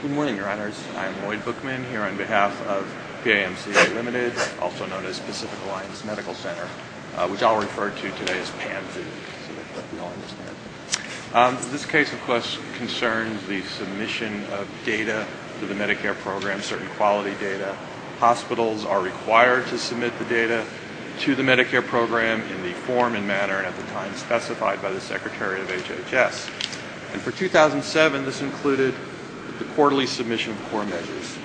Good morning, your honors. I'm Lloyd Bookman here on behalf of PAMC, Ltd., also known as Pacific Alliance Medical Center, which I'll refer to today as PAMC. This case, of course, concerns the submission of data to the Medicare program, certain quality data. Hospitals are required to submit the data to the Medicare program in the form and manner at the time specified by the Secretary of HHS. And for 2007, this included the quarterly submission of core measures.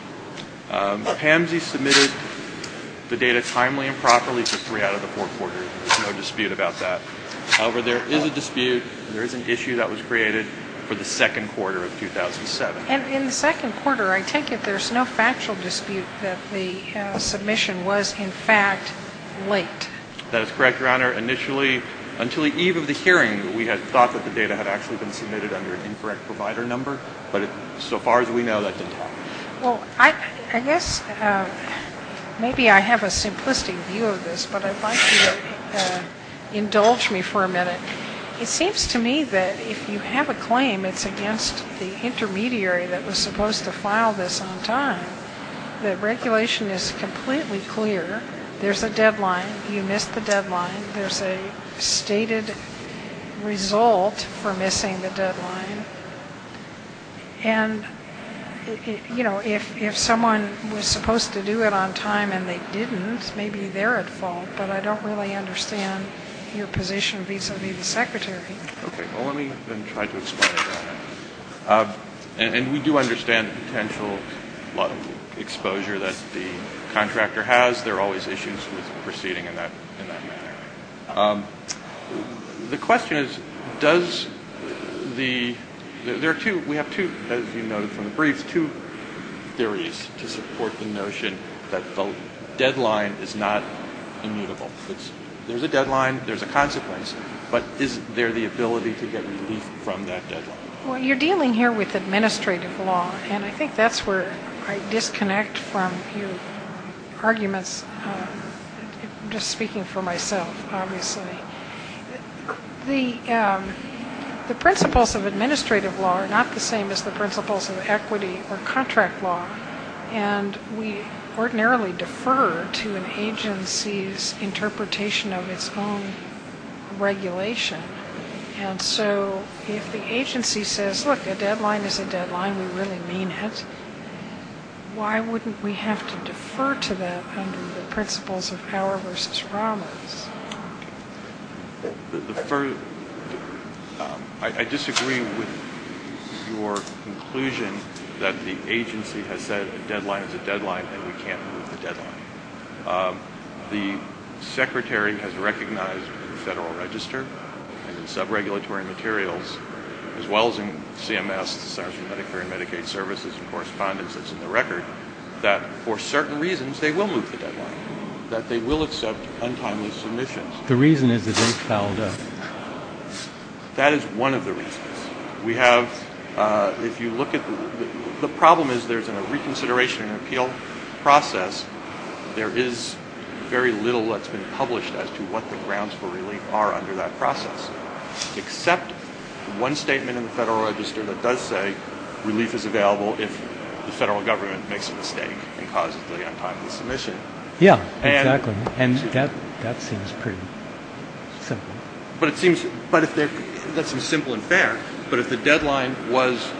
PAMC submitted the data timely and properly for three out of the four quarters. There's no dispute about that. However, there is a dispute and there is an issue that was created for the second quarter of 2007. And in the second quarter, I take it there's no factual dispute that the submission was, in fact, late. That is correct, your honor. Initially, until the eve of the hearing, we had thought that the data had actually been submitted under an incorrect provider number. But so far as we know, that didn't happen. Well, I guess maybe I have a simplistic view of this, but I'd like you to indulge me for a minute. It seems to me that if you have a claim, it's against the intermediary that was supposed to file this on time, the regulation is completely clear. There's a deadline. You missed the deadline. There's a stated result for missing the deadline. And, you know, if someone was supposed to do it on time and they didn't, maybe they're at fault. But I don't really understand your position vis-a-vis the Secretary. Okay. Well, let me then try to explain that. And we do understand the potential exposure that the contractor has. There are always issues with proceeding in that manner. The question is, does the – there are two – we have two, as you noted from the brief, two theories to support the notion that the deadline is not immutable. There's a deadline. There's a consequence. But is there the ability to get relief from that deadline? Well, you're dealing here with administrative law, and I think that's where I disconnect from your arguments. I'm just speaking for myself, obviously. The principles of administrative law are not the same as the principles of equity or contract law, and we ordinarily defer to an agency's interpretation of its own regulation. And so if the agency says, look, a deadline is a deadline, we really mean it, why wouldn't we have to defer to that under the principles of power versus promise? I disagree with your conclusion that the agency has said a deadline is a deadline and we can't move the deadline. The Secretary has recognized in the Federal Register and in sub-regulatory materials, as well as in CMS, Centers for Medicare and Medicaid Services, and correspondences in the record, that for certain reasons they will move the deadline, that they will accept untimely submissions. The reason is that they've fouled up. That is one of the reasons. We have, if you look at the problem is there's a reconsideration and appeal process. There is very little that's been published as to what the grounds for relief are under that process, except one statement in the Federal Register that does say relief is available if the federal government makes a mistake and causes the untimely submission. Yeah, exactly. And that seems pretty simple. But it seems, let's be simple and fair, but if the deadline was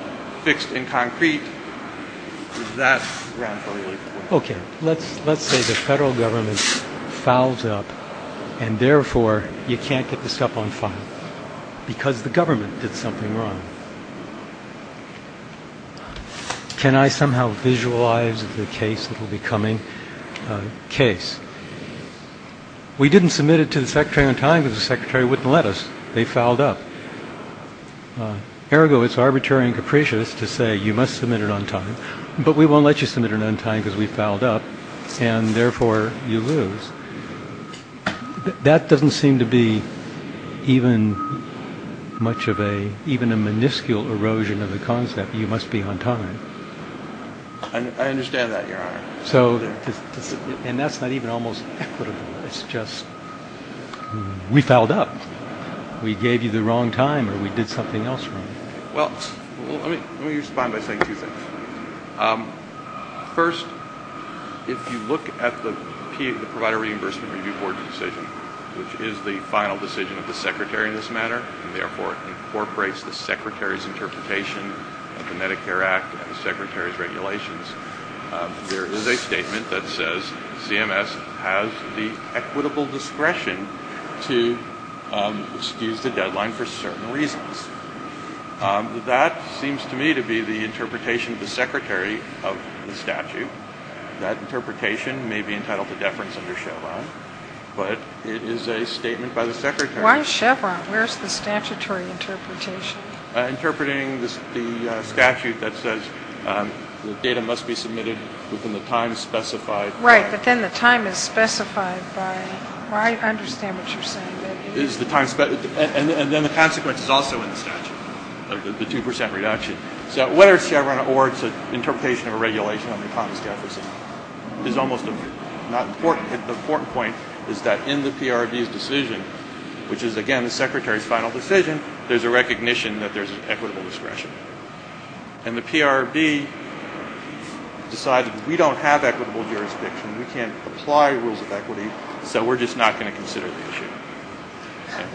fixed in concrete, that grounds for relief. Okay. Let's say the federal government fouls up and, therefore, you can't get this stuff on file because the government did something wrong. Can I somehow visualize the case that will be coming? Case. We didn't submit it to the secretary on time because the secretary wouldn't let us. They fouled up. Ergo, it's arbitrary and capricious to say you must submit it on time, but we won't let you submit it on time because we fouled up, and, therefore, you lose. That doesn't seem to be even a minuscule erosion of the concept that you must be on time. I understand that, Your Honor. And that's not even almost equitable. It's just we fouled up. We gave you the wrong time or we did something else wrong. Well, let me respond by saying two things. First, if you look at the Provider Reimbursement Review Board's decision, which is the final decision of the secretary in this matter, and, therefore, incorporates the secretary's interpretation of the Medicare Act and the secretary's regulations, there is a statement that says CMS has the equitable discretion to excuse the deadline for certain reasons. That seems to me to be the interpretation of the secretary of the statute. That interpretation may be entitled to deference under Chevron, but it is a statement by the secretary. Why Chevron? Where is the statutory interpretation? Interpreting the statute that says the data must be submitted within the time specified. Right, but then the time is specified by why I understand what you're saying. And then the consequence is also in the statute, the 2% reduction. So whether it's Chevron or it's an interpretation of a regulation under Thomas Jefferson is almost not important. The important point is that in the PRB's decision, which is, again, the secretary's final decision, there's a recognition that there's an equitable discretion. And the PRB decided we don't have equitable jurisdiction. We can't apply rules of equity, so we're just not going to consider the issue.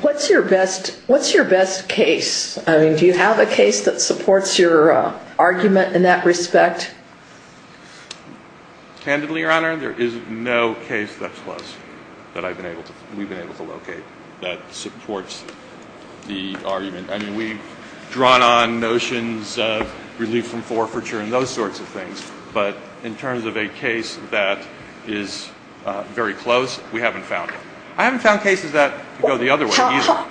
What's your best case? I mean, do you have a case that supports your argument in that respect? Candidly, Your Honor, there is no case that's close that we've been able to locate that supports the argument. I mean, we've drawn on notions of relief from forfeiture and those sorts of things. But in terms of a case that is very close, we haven't found it. I haven't found cases that go the other way either.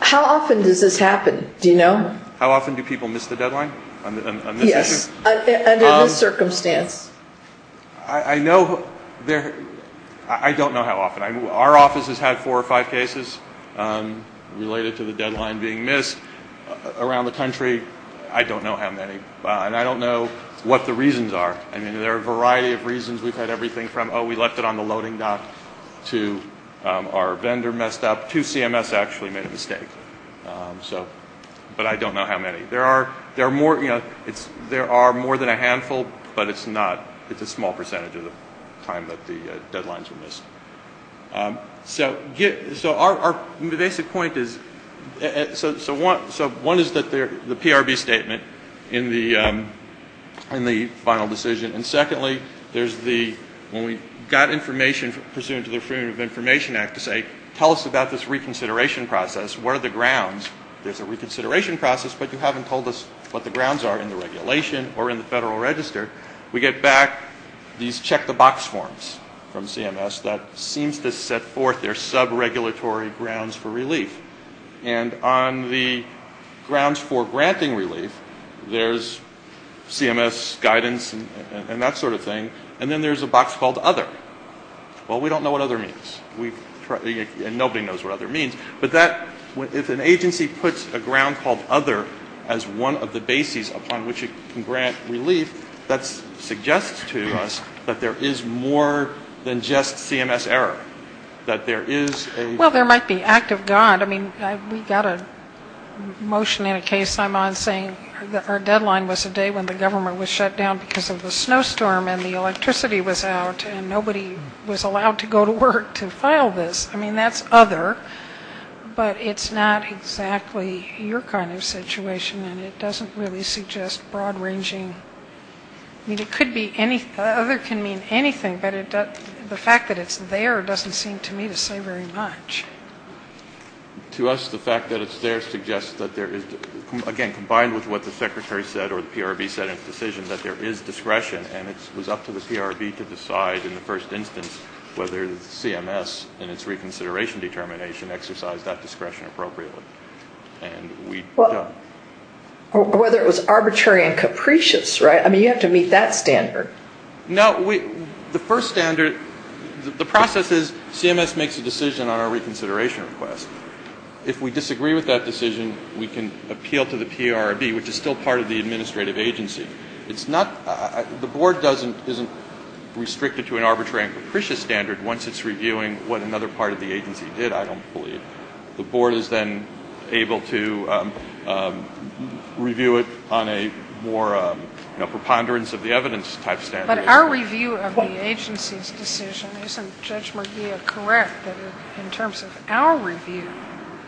How often does this happen? Do you know? How often do people miss the deadline on this issue? Yes, under this circumstance. I don't know how often. Our office has had four or five cases related to the deadline being missed around the country. I don't know how many. And I don't know what the reasons are. I mean, there are a variety of reasons. We've had everything from, oh, we left it on the loading dock to our vendor messed up. Two CMS actually made a mistake. But I don't know how many. There are more than a handful, but it's a small percentage of the time that the deadlines were missed. So our basic point is, so one is the PRB statement in the final decision. And secondly, there's the, when we got information pursuant to the Affirmative Information Act to say, tell us about this reconsideration process. What are the grounds? There's a reconsideration process, but you haven't told us what the grounds are in the regulation or in the Federal Register. We get back these check-the-box forms from CMS that seems to set forth their sub-regulatory grounds for relief. And on the grounds for granting relief, there's CMS guidance and that sort of thing. And then there's a box called Other. Well, we don't know what Other means. And nobody knows what Other means. But that, if an agency puts a ground called Other as one of the bases upon which it can grant relief, that suggests to us that there is more than just CMS error. That there is a... Well, there might be act of God. I mean, we got a motion in a case I'm on saying that our deadline was the day when the government was shut down because of the snowstorm and the electricity was out and nobody was allowed to go to work to file this. I mean, that's Other, but it's not exactly your kind of situation and it doesn't really suggest broad-ranging... I mean, it could be any... Other can mean anything, but the fact that it's there doesn't seem to me to say very much. To us, the fact that it's there suggests that there is, again, combined with what the Secretary said or the PRB said in the decision, that there is discretion and it was up to the PRB to decide in the first instance whether CMS in its reconsideration determination exercised that discretion appropriately, and we don't. Well, whether it was arbitrary and capricious, right? I mean, you have to meet that standard. No, the first standard, the process is CMS makes a decision on our reconsideration request. If we disagree with that decision, we can appeal to the PRB, which is still part of the administrative agency. It's not the board isn't restricted to an arbitrary and capricious standard once it's reviewing what another part of the agency did, I don't believe. The board is then able to review it on a more preponderance of the evidence type standard. But our review of the agency's decision, isn't Judge Merguia correct that in terms of our review,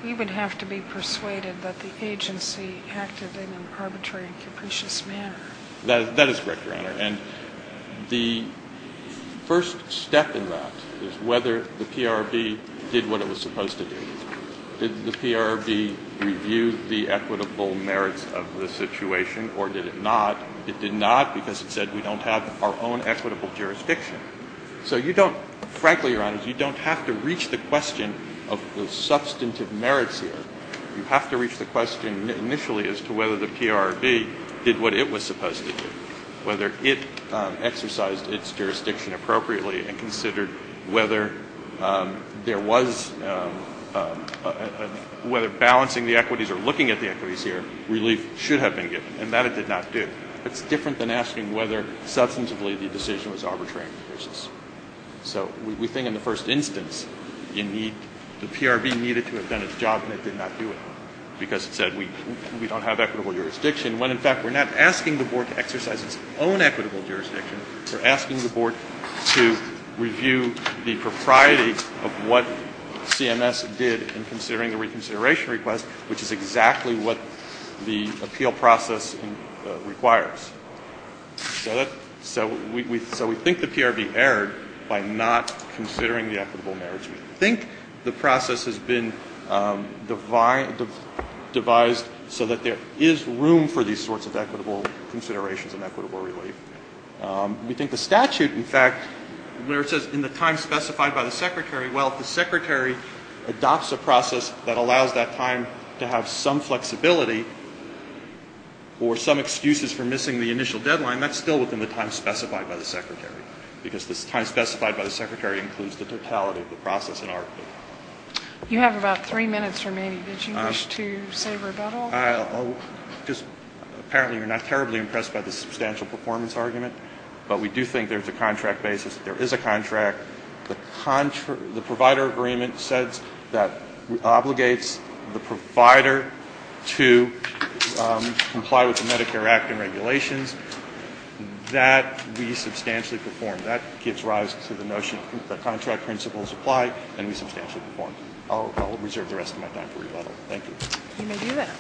you would have to be persuaded that the agency acted in an arbitrary and capricious manner? That is correct, Your Honor. And the first step in that is whether the PRB did what it was supposed to do. Did the PRB review the equitable merits of the situation or did it not? It did not because it said we don't have our own equitable jurisdiction. So you don't, frankly, Your Honor, you don't have to reach the question of the substantive merits here. You have to reach the question initially as to whether the PRB did what it was supposed to do, whether it exercised its jurisdiction appropriately and considered whether balancing the equities or looking at the equities here, relief should have been given, and that it did not do. It's different than asking whether substantively the decision was arbitrary and capricious. So we think in the first instance the PRB needed to have done its job and it did not do it because it said we don't have equitable jurisdiction, when in fact we're not asking the board to exercise its own equitable jurisdiction. We're asking the board to review the propriety of what CMS did in considering the reconsideration request, which is exactly what the appeal process requires. So we think the PRB erred by not considering the equitable merits. We think the process has been devised so that there is room for these sorts of equitable considerations and equitable relief. We think the statute, in fact, where it says in the time specified by the Secretary, well, if the Secretary adopts a process that allows that time to have some flexibility or some excuses for missing the initial deadline, that's still within the time specified by the Secretary, because the time specified by the Secretary includes the totality of the process in our view. You have about three minutes remaining. Did you wish to say rebuttal? Just apparently you're not terribly impressed by the substantial performance argument, but we do think there's a contract basis. There is a contract. The provider agreement says that obligates the provider to comply with the Medicare Act and regulations. That we substantially perform. That gives rise to the notion that contract principles apply, and we substantially perform. I'll reserve the rest of my time for rebuttal. Thank you. You may do that.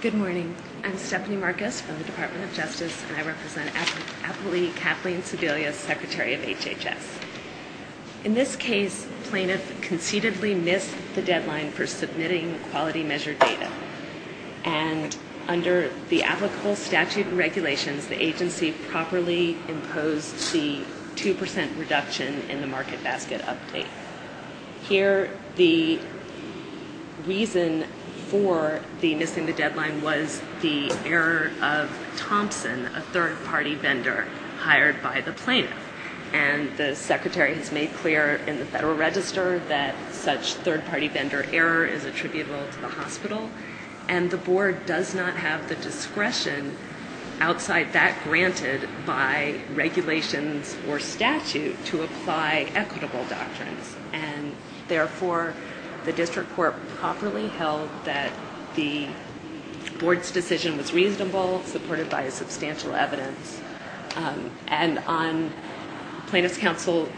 Good morning. I'm Stephanie Marcus from the Department of Justice, and I represent Appley Kathleen Sebelius, Secretary of HHS. In this case, plaintiff concededly missed the deadline for submitting quality measure data, and under the applicable statute and regulations, the agency properly imposed the 2% reduction in the market basket update. Here, the reason for the missing the deadline was the error of Thompson, a third-party vendor hired by the plaintiff, and the Secretary has made clear in the Federal Register that such third-party vendor error is attributable to the hospital, and the board does not have the discretion outside that granted by regulations or statute to apply equitable doctrines, and therefore the district court properly held that the board's decision was reasonable, supported by substantial evidence, and on plaintiff's counsel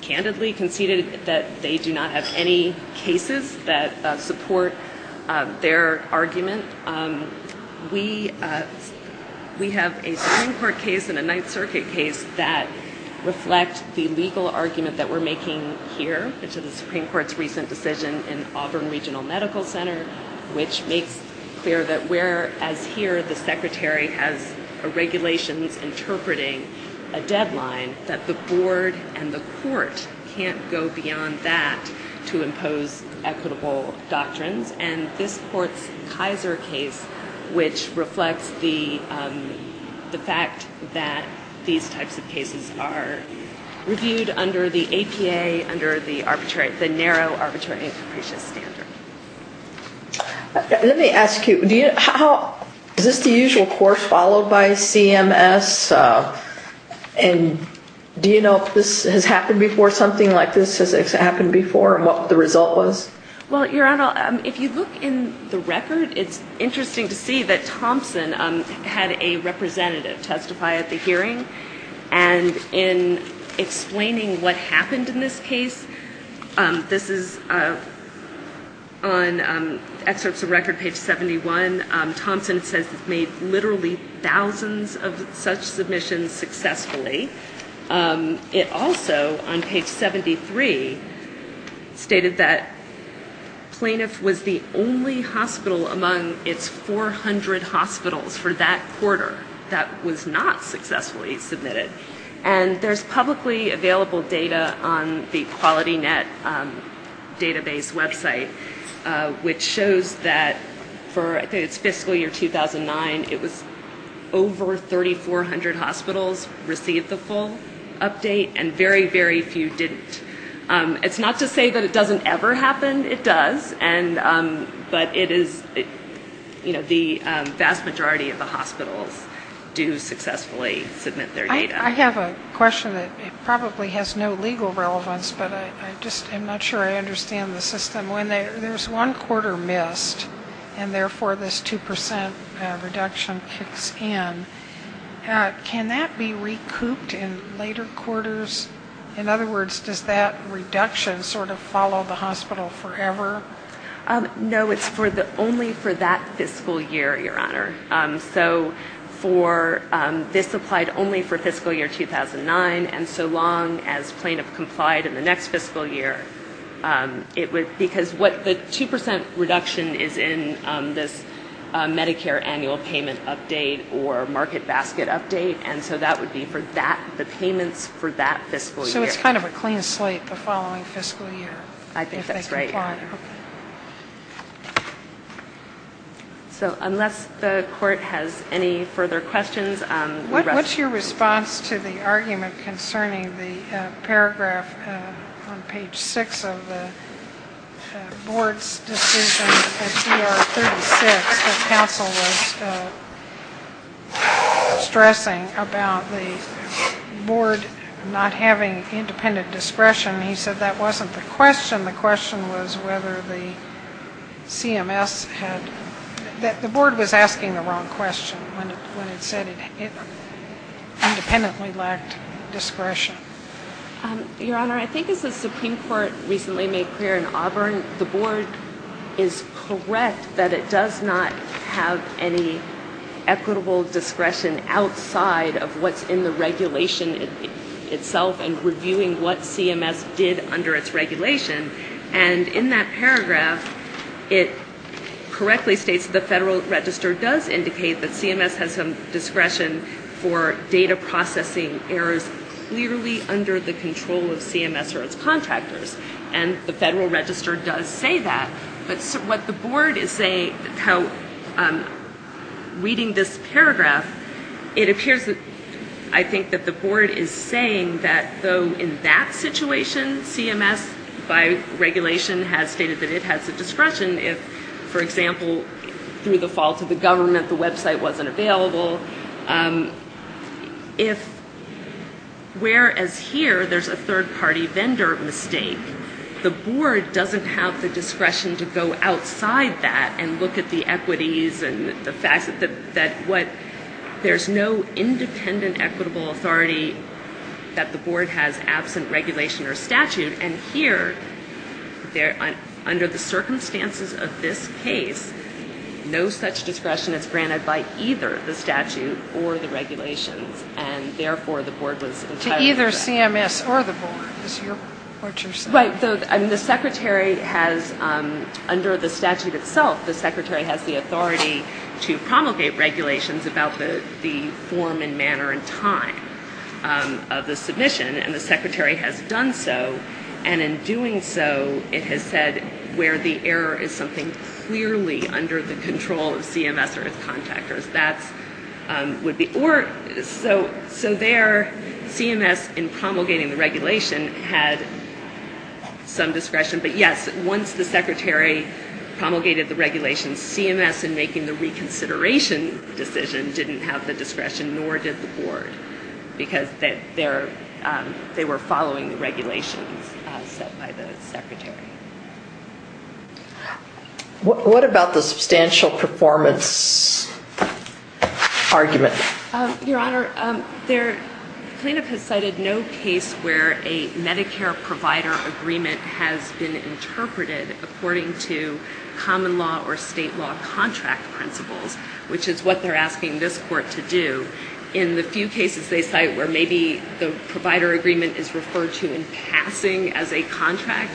candidly conceded that they do not have any cases that support their argument. We have a Supreme Court case and a Ninth Circuit case that reflect the legal argument that we're making here, which is the Supreme Court's recent decision in Auburn Regional Medical Center, which makes clear that whereas here the Secretary has regulations interpreting a deadline, that the board and the court can't go beyond that to impose equitable doctrines, and this court's Kaiser case, which reflects the fact that these types of cases are reviewed under the APA, the narrow arbitrary and capricious standard. Let me ask you, is this the usual course followed by CMS, and do you know if this has happened before, something like this has happened before, and what the result was? Well, Your Honor, if you look in the record, it's interesting to see that Thompson had a representative testify at the hearing, and in explaining what happened in this case, this is on excerpts of record, page 71, Thompson says he's made literally thousands of such submissions successfully. It also, on page 73, stated that plaintiff was the only hospital among its 400 hospitals for that quarter that was not successfully submitted. And there's publicly available data on the QualityNet database website, which shows that for, I think it's fiscal year 2009, it was over 3,400 hospitals received the full update, and very, very few didn't. It's not to say that it doesn't ever happen. It does, but it is, you know, the vast majority of the hospitals do successfully submit their data. I have a question that probably has no legal relevance, but I just am not sure I understand the system. When there's one quarter missed, and therefore this 2% reduction kicks in, can that be recouped in later quarters? In other words, does that reduction sort of follow the hospital forever? No, it's only for that fiscal year, Your Honor. So this applied only for fiscal year 2009, and so long as plaintiff complied in the next fiscal year, because the 2% reduction is in this Medicare annual payment update or market basket update, and so that would be for the payments for that fiscal year. So it's kind of a clean slate the following fiscal year. I think that's right, Your Honor. So unless the Court has any further questions. What's your response to the argument concerning the paragraph on page 6 of the board's decision at CR 36 that counsel was stressing about the board not having independent discretion? He said that wasn't the question. The question was whether the CMS had – the board was asking the wrong question when it said it independently lacked discretion. Your Honor, I think as the Supreme Court recently made clear in Auburn, the board is correct that it does not have any equitable discretion outside of what's in the regulation itself and reviewing what CMS did under its regulation. And in that paragraph, it correctly states the Federal Register does indicate that CMS has some discretion for data processing errors clearly under the control of CMS or its contractors, and the Federal Register does say that. But what the board is saying, how reading this paragraph, it appears that I think that the board is saying that though in that situation, CMS by regulation has stated that it has the discretion if, for example, through the fault of the government, the website wasn't available. If whereas here there's a third-party vendor mistake, the board doesn't have the discretion to go outside that and look at the equities and the fact that what – there's no independent equitable authority that the board has absent regulation or statute. And here, under the circumstances of this case, no such discretion is granted by either the statute or the regulations, and therefore the board was entitled to it. To either CMS or the board is what you're saying. Right. And the secretary has, under the statute itself, the secretary has the authority to promulgate regulations about the form and manner and time of the submission, and the secretary has done so. And in doing so, it has said where the error is something clearly under the control of CMS or its contractors. That would be – or so there CMS in promulgating the regulation had some discretion, but yes, once the secretary promulgated the regulation, CMS in making the reconsideration decision didn't have the discretion nor did the board because they were following the regulations set by the secretary. What about the substantial performance argument? Your Honor, the plaintiff has cited no case where a Medicare provider agreement has been interpreted according to common law or state law contract principles, which is what they're asking this court to do. In the few cases they cite where maybe the provider agreement is referred to in passing as a contract,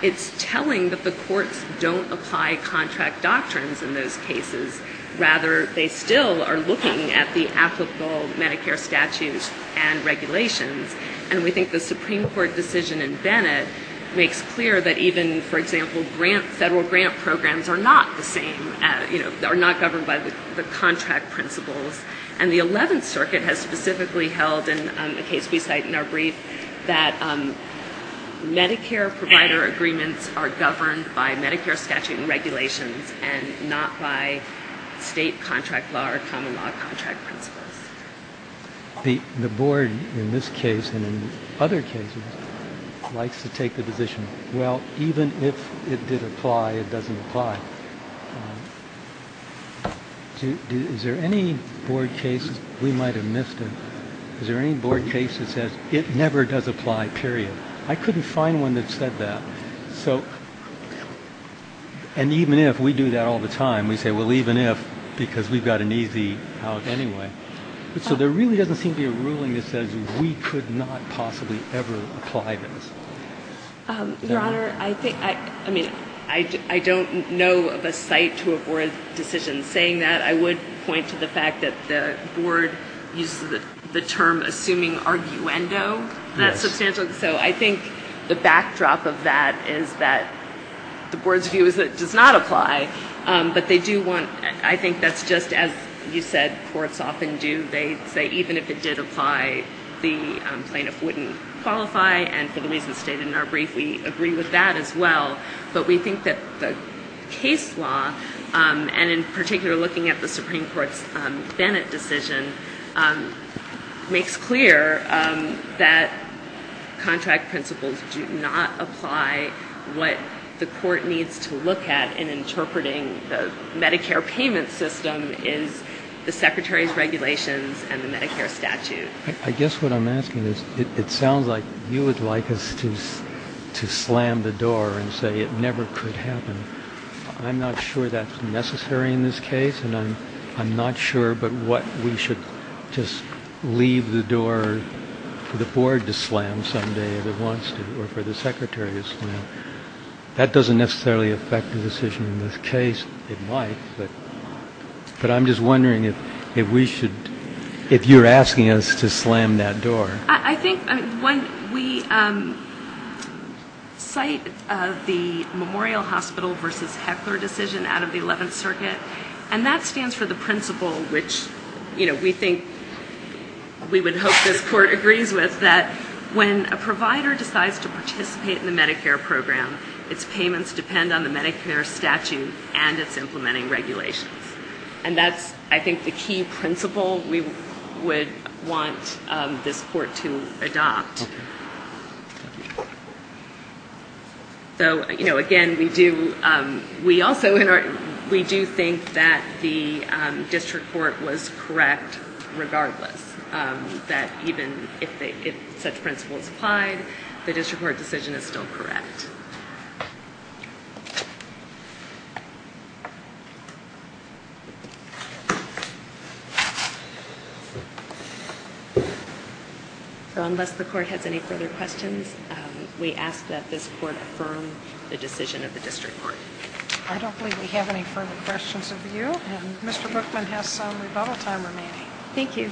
it's telling that the courts don't apply contract doctrines in those cases. Rather, they still are looking at the applicable Medicare statutes and regulations, and we think the Supreme Court decision in Bennett makes clear that even, for example, federal grant programs are not the same, are not governed by the contract principles. And the Eleventh Circuit has specifically held in a case we cite in our brief that Medicare provider agreements are governed by Medicare statute and regulations and not by state contract law or common law contract principles. The board in this case and in other cases likes to take the position, well, even if it did apply, it doesn't apply. Is there any board case we might have missed? Is there any board case that says it never does apply, period? I couldn't find one that said that. And even if we do that all the time, we say, well, even if, because we've got an easy out anyway. So there really doesn't seem to be a ruling that says we could not possibly ever apply this. Your Honor, I think, I mean, I don't know of a cite to a board decision saying that. I would point to the fact that the board used the term assuming arguendo that substantially. So I think the backdrop of that is that the board's view is that it does not apply, but they do want, I think that's just as you said, courts often do. They say even if it did apply, the plaintiff wouldn't qualify. And for the reasons stated in our brief, we agree with that as well. But we think that the case law, and in particular looking at the Supreme Court's Bennett decision, makes clear that contract principles do not apply what the court needs to look at in interpreting the Medicare payment system is the Secretary's regulations and the Medicare statute. I guess what I'm asking is it sounds like you would like us to slam the door and say it never could happen. I'm not sure that's necessary in this case, and I'm not sure but what we should just leave the door for the board to slam someday if it wants to or for the Secretary to slam. That doesn't necessarily affect the decision in this case. It might, but I'm just wondering if we should, if you're asking us to slam that door. I think when we cite the Memorial Hospital versus Heckler decision out of the 11th Circuit, and that stands for the principle which we think we would hope this court agrees with, is that when a provider decides to participate in the Medicare program, its payments depend on the Medicare statute and its implementing regulations. And that's, I think, the key principle we would want this court to adopt. Again, we do think that the district court was correct regardless, that even if such principles applied, the district court decision is still correct. Thank you. So unless the court has any further questions, we ask that this court affirm the decision of the district court. I don't believe we have any further questions of you, and Mr. Bookman has some rebuttal time remaining. Thank you.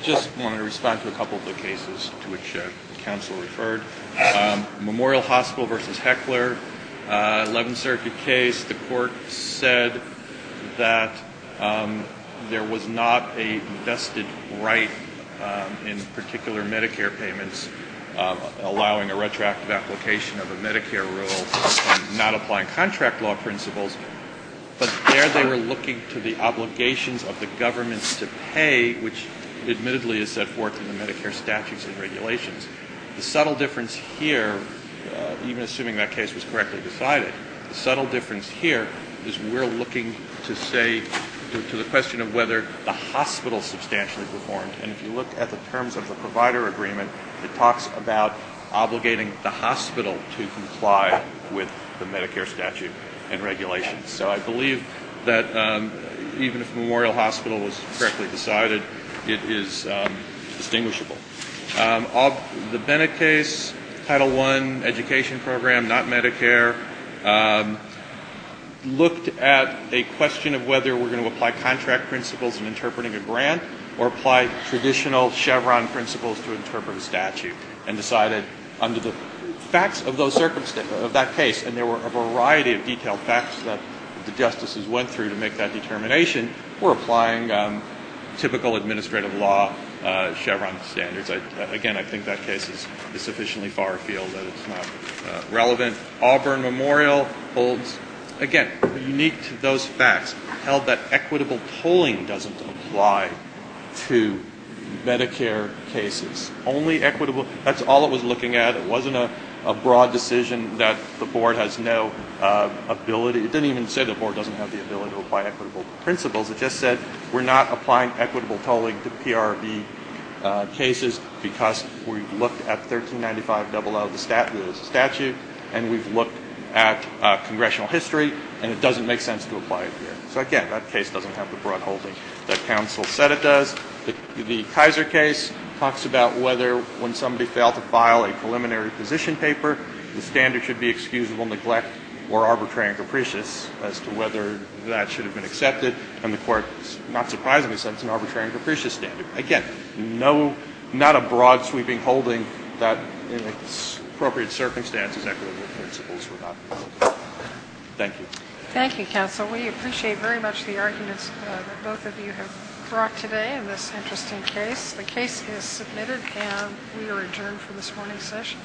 I just wanted to respond to a couple of the cases to which the counsel referred. Memorial Hospital versus Heckler, 11th Circuit case, the court said that there was not a vested right in particular Medicare payments, allowing a retroactive application of a Medicare rule and not applying contract law principles. But there they were looking to the obligations of the governments to pay, which admittedly is set forth in the Medicare statutes and regulations. The subtle difference here, even assuming that case was correctly decided, the subtle difference here is we're looking to say, to the question of whether the hospital substantially performed. And if you look at the terms of the provider agreement, it talks about obligating the hospital to comply with the Medicare statute and regulations. So I believe that even if Memorial Hospital was correctly decided, it is distinguishable. The Bennett case, Title I, education program, not Medicare, looked at a question of whether we're going to apply contract principles in interpreting a grant or apply traditional Chevron principles to interpret a statute and decided under the facts of that case, and there were a variety of detailed facts that the justices went through to make that determination, we're applying typical administrative law Chevron standards. Again, I think that case is sufficiently far afield that it's not relevant. Auburn Memorial holds, again, unique to those facts, held that equitable tolling doesn't apply to Medicare cases. Only equitable, that's all it was looking at. It wasn't a broad decision that the board has no ability, it didn't even say the board doesn't have the ability to apply equitable principles, it just said we're not applying equitable tolling to PRB cases, because we've looked at 1395.00, the statute, and we've looked at congressional history, and it doesn't make sense to apply it here. So, again, that case doesn't have the broad holding that counsel said it does. The Kaiser case talks about whether when somebody failed to file a preliminary position paper, the standard should be excusable neglect or arbitrary and capricious as to whether that should have been accepted, and the court, not surprisingly, said it's an arbitrary and capricious standard. So, again, not a broad sweeping holding that in its appropriate circumstances equitable principles were not. Thank you. Thank you, counsel. We appreciate very much the arguments that both of you have brought today in this interesting case. The case is submitted, and we are adjourned for this morning's session.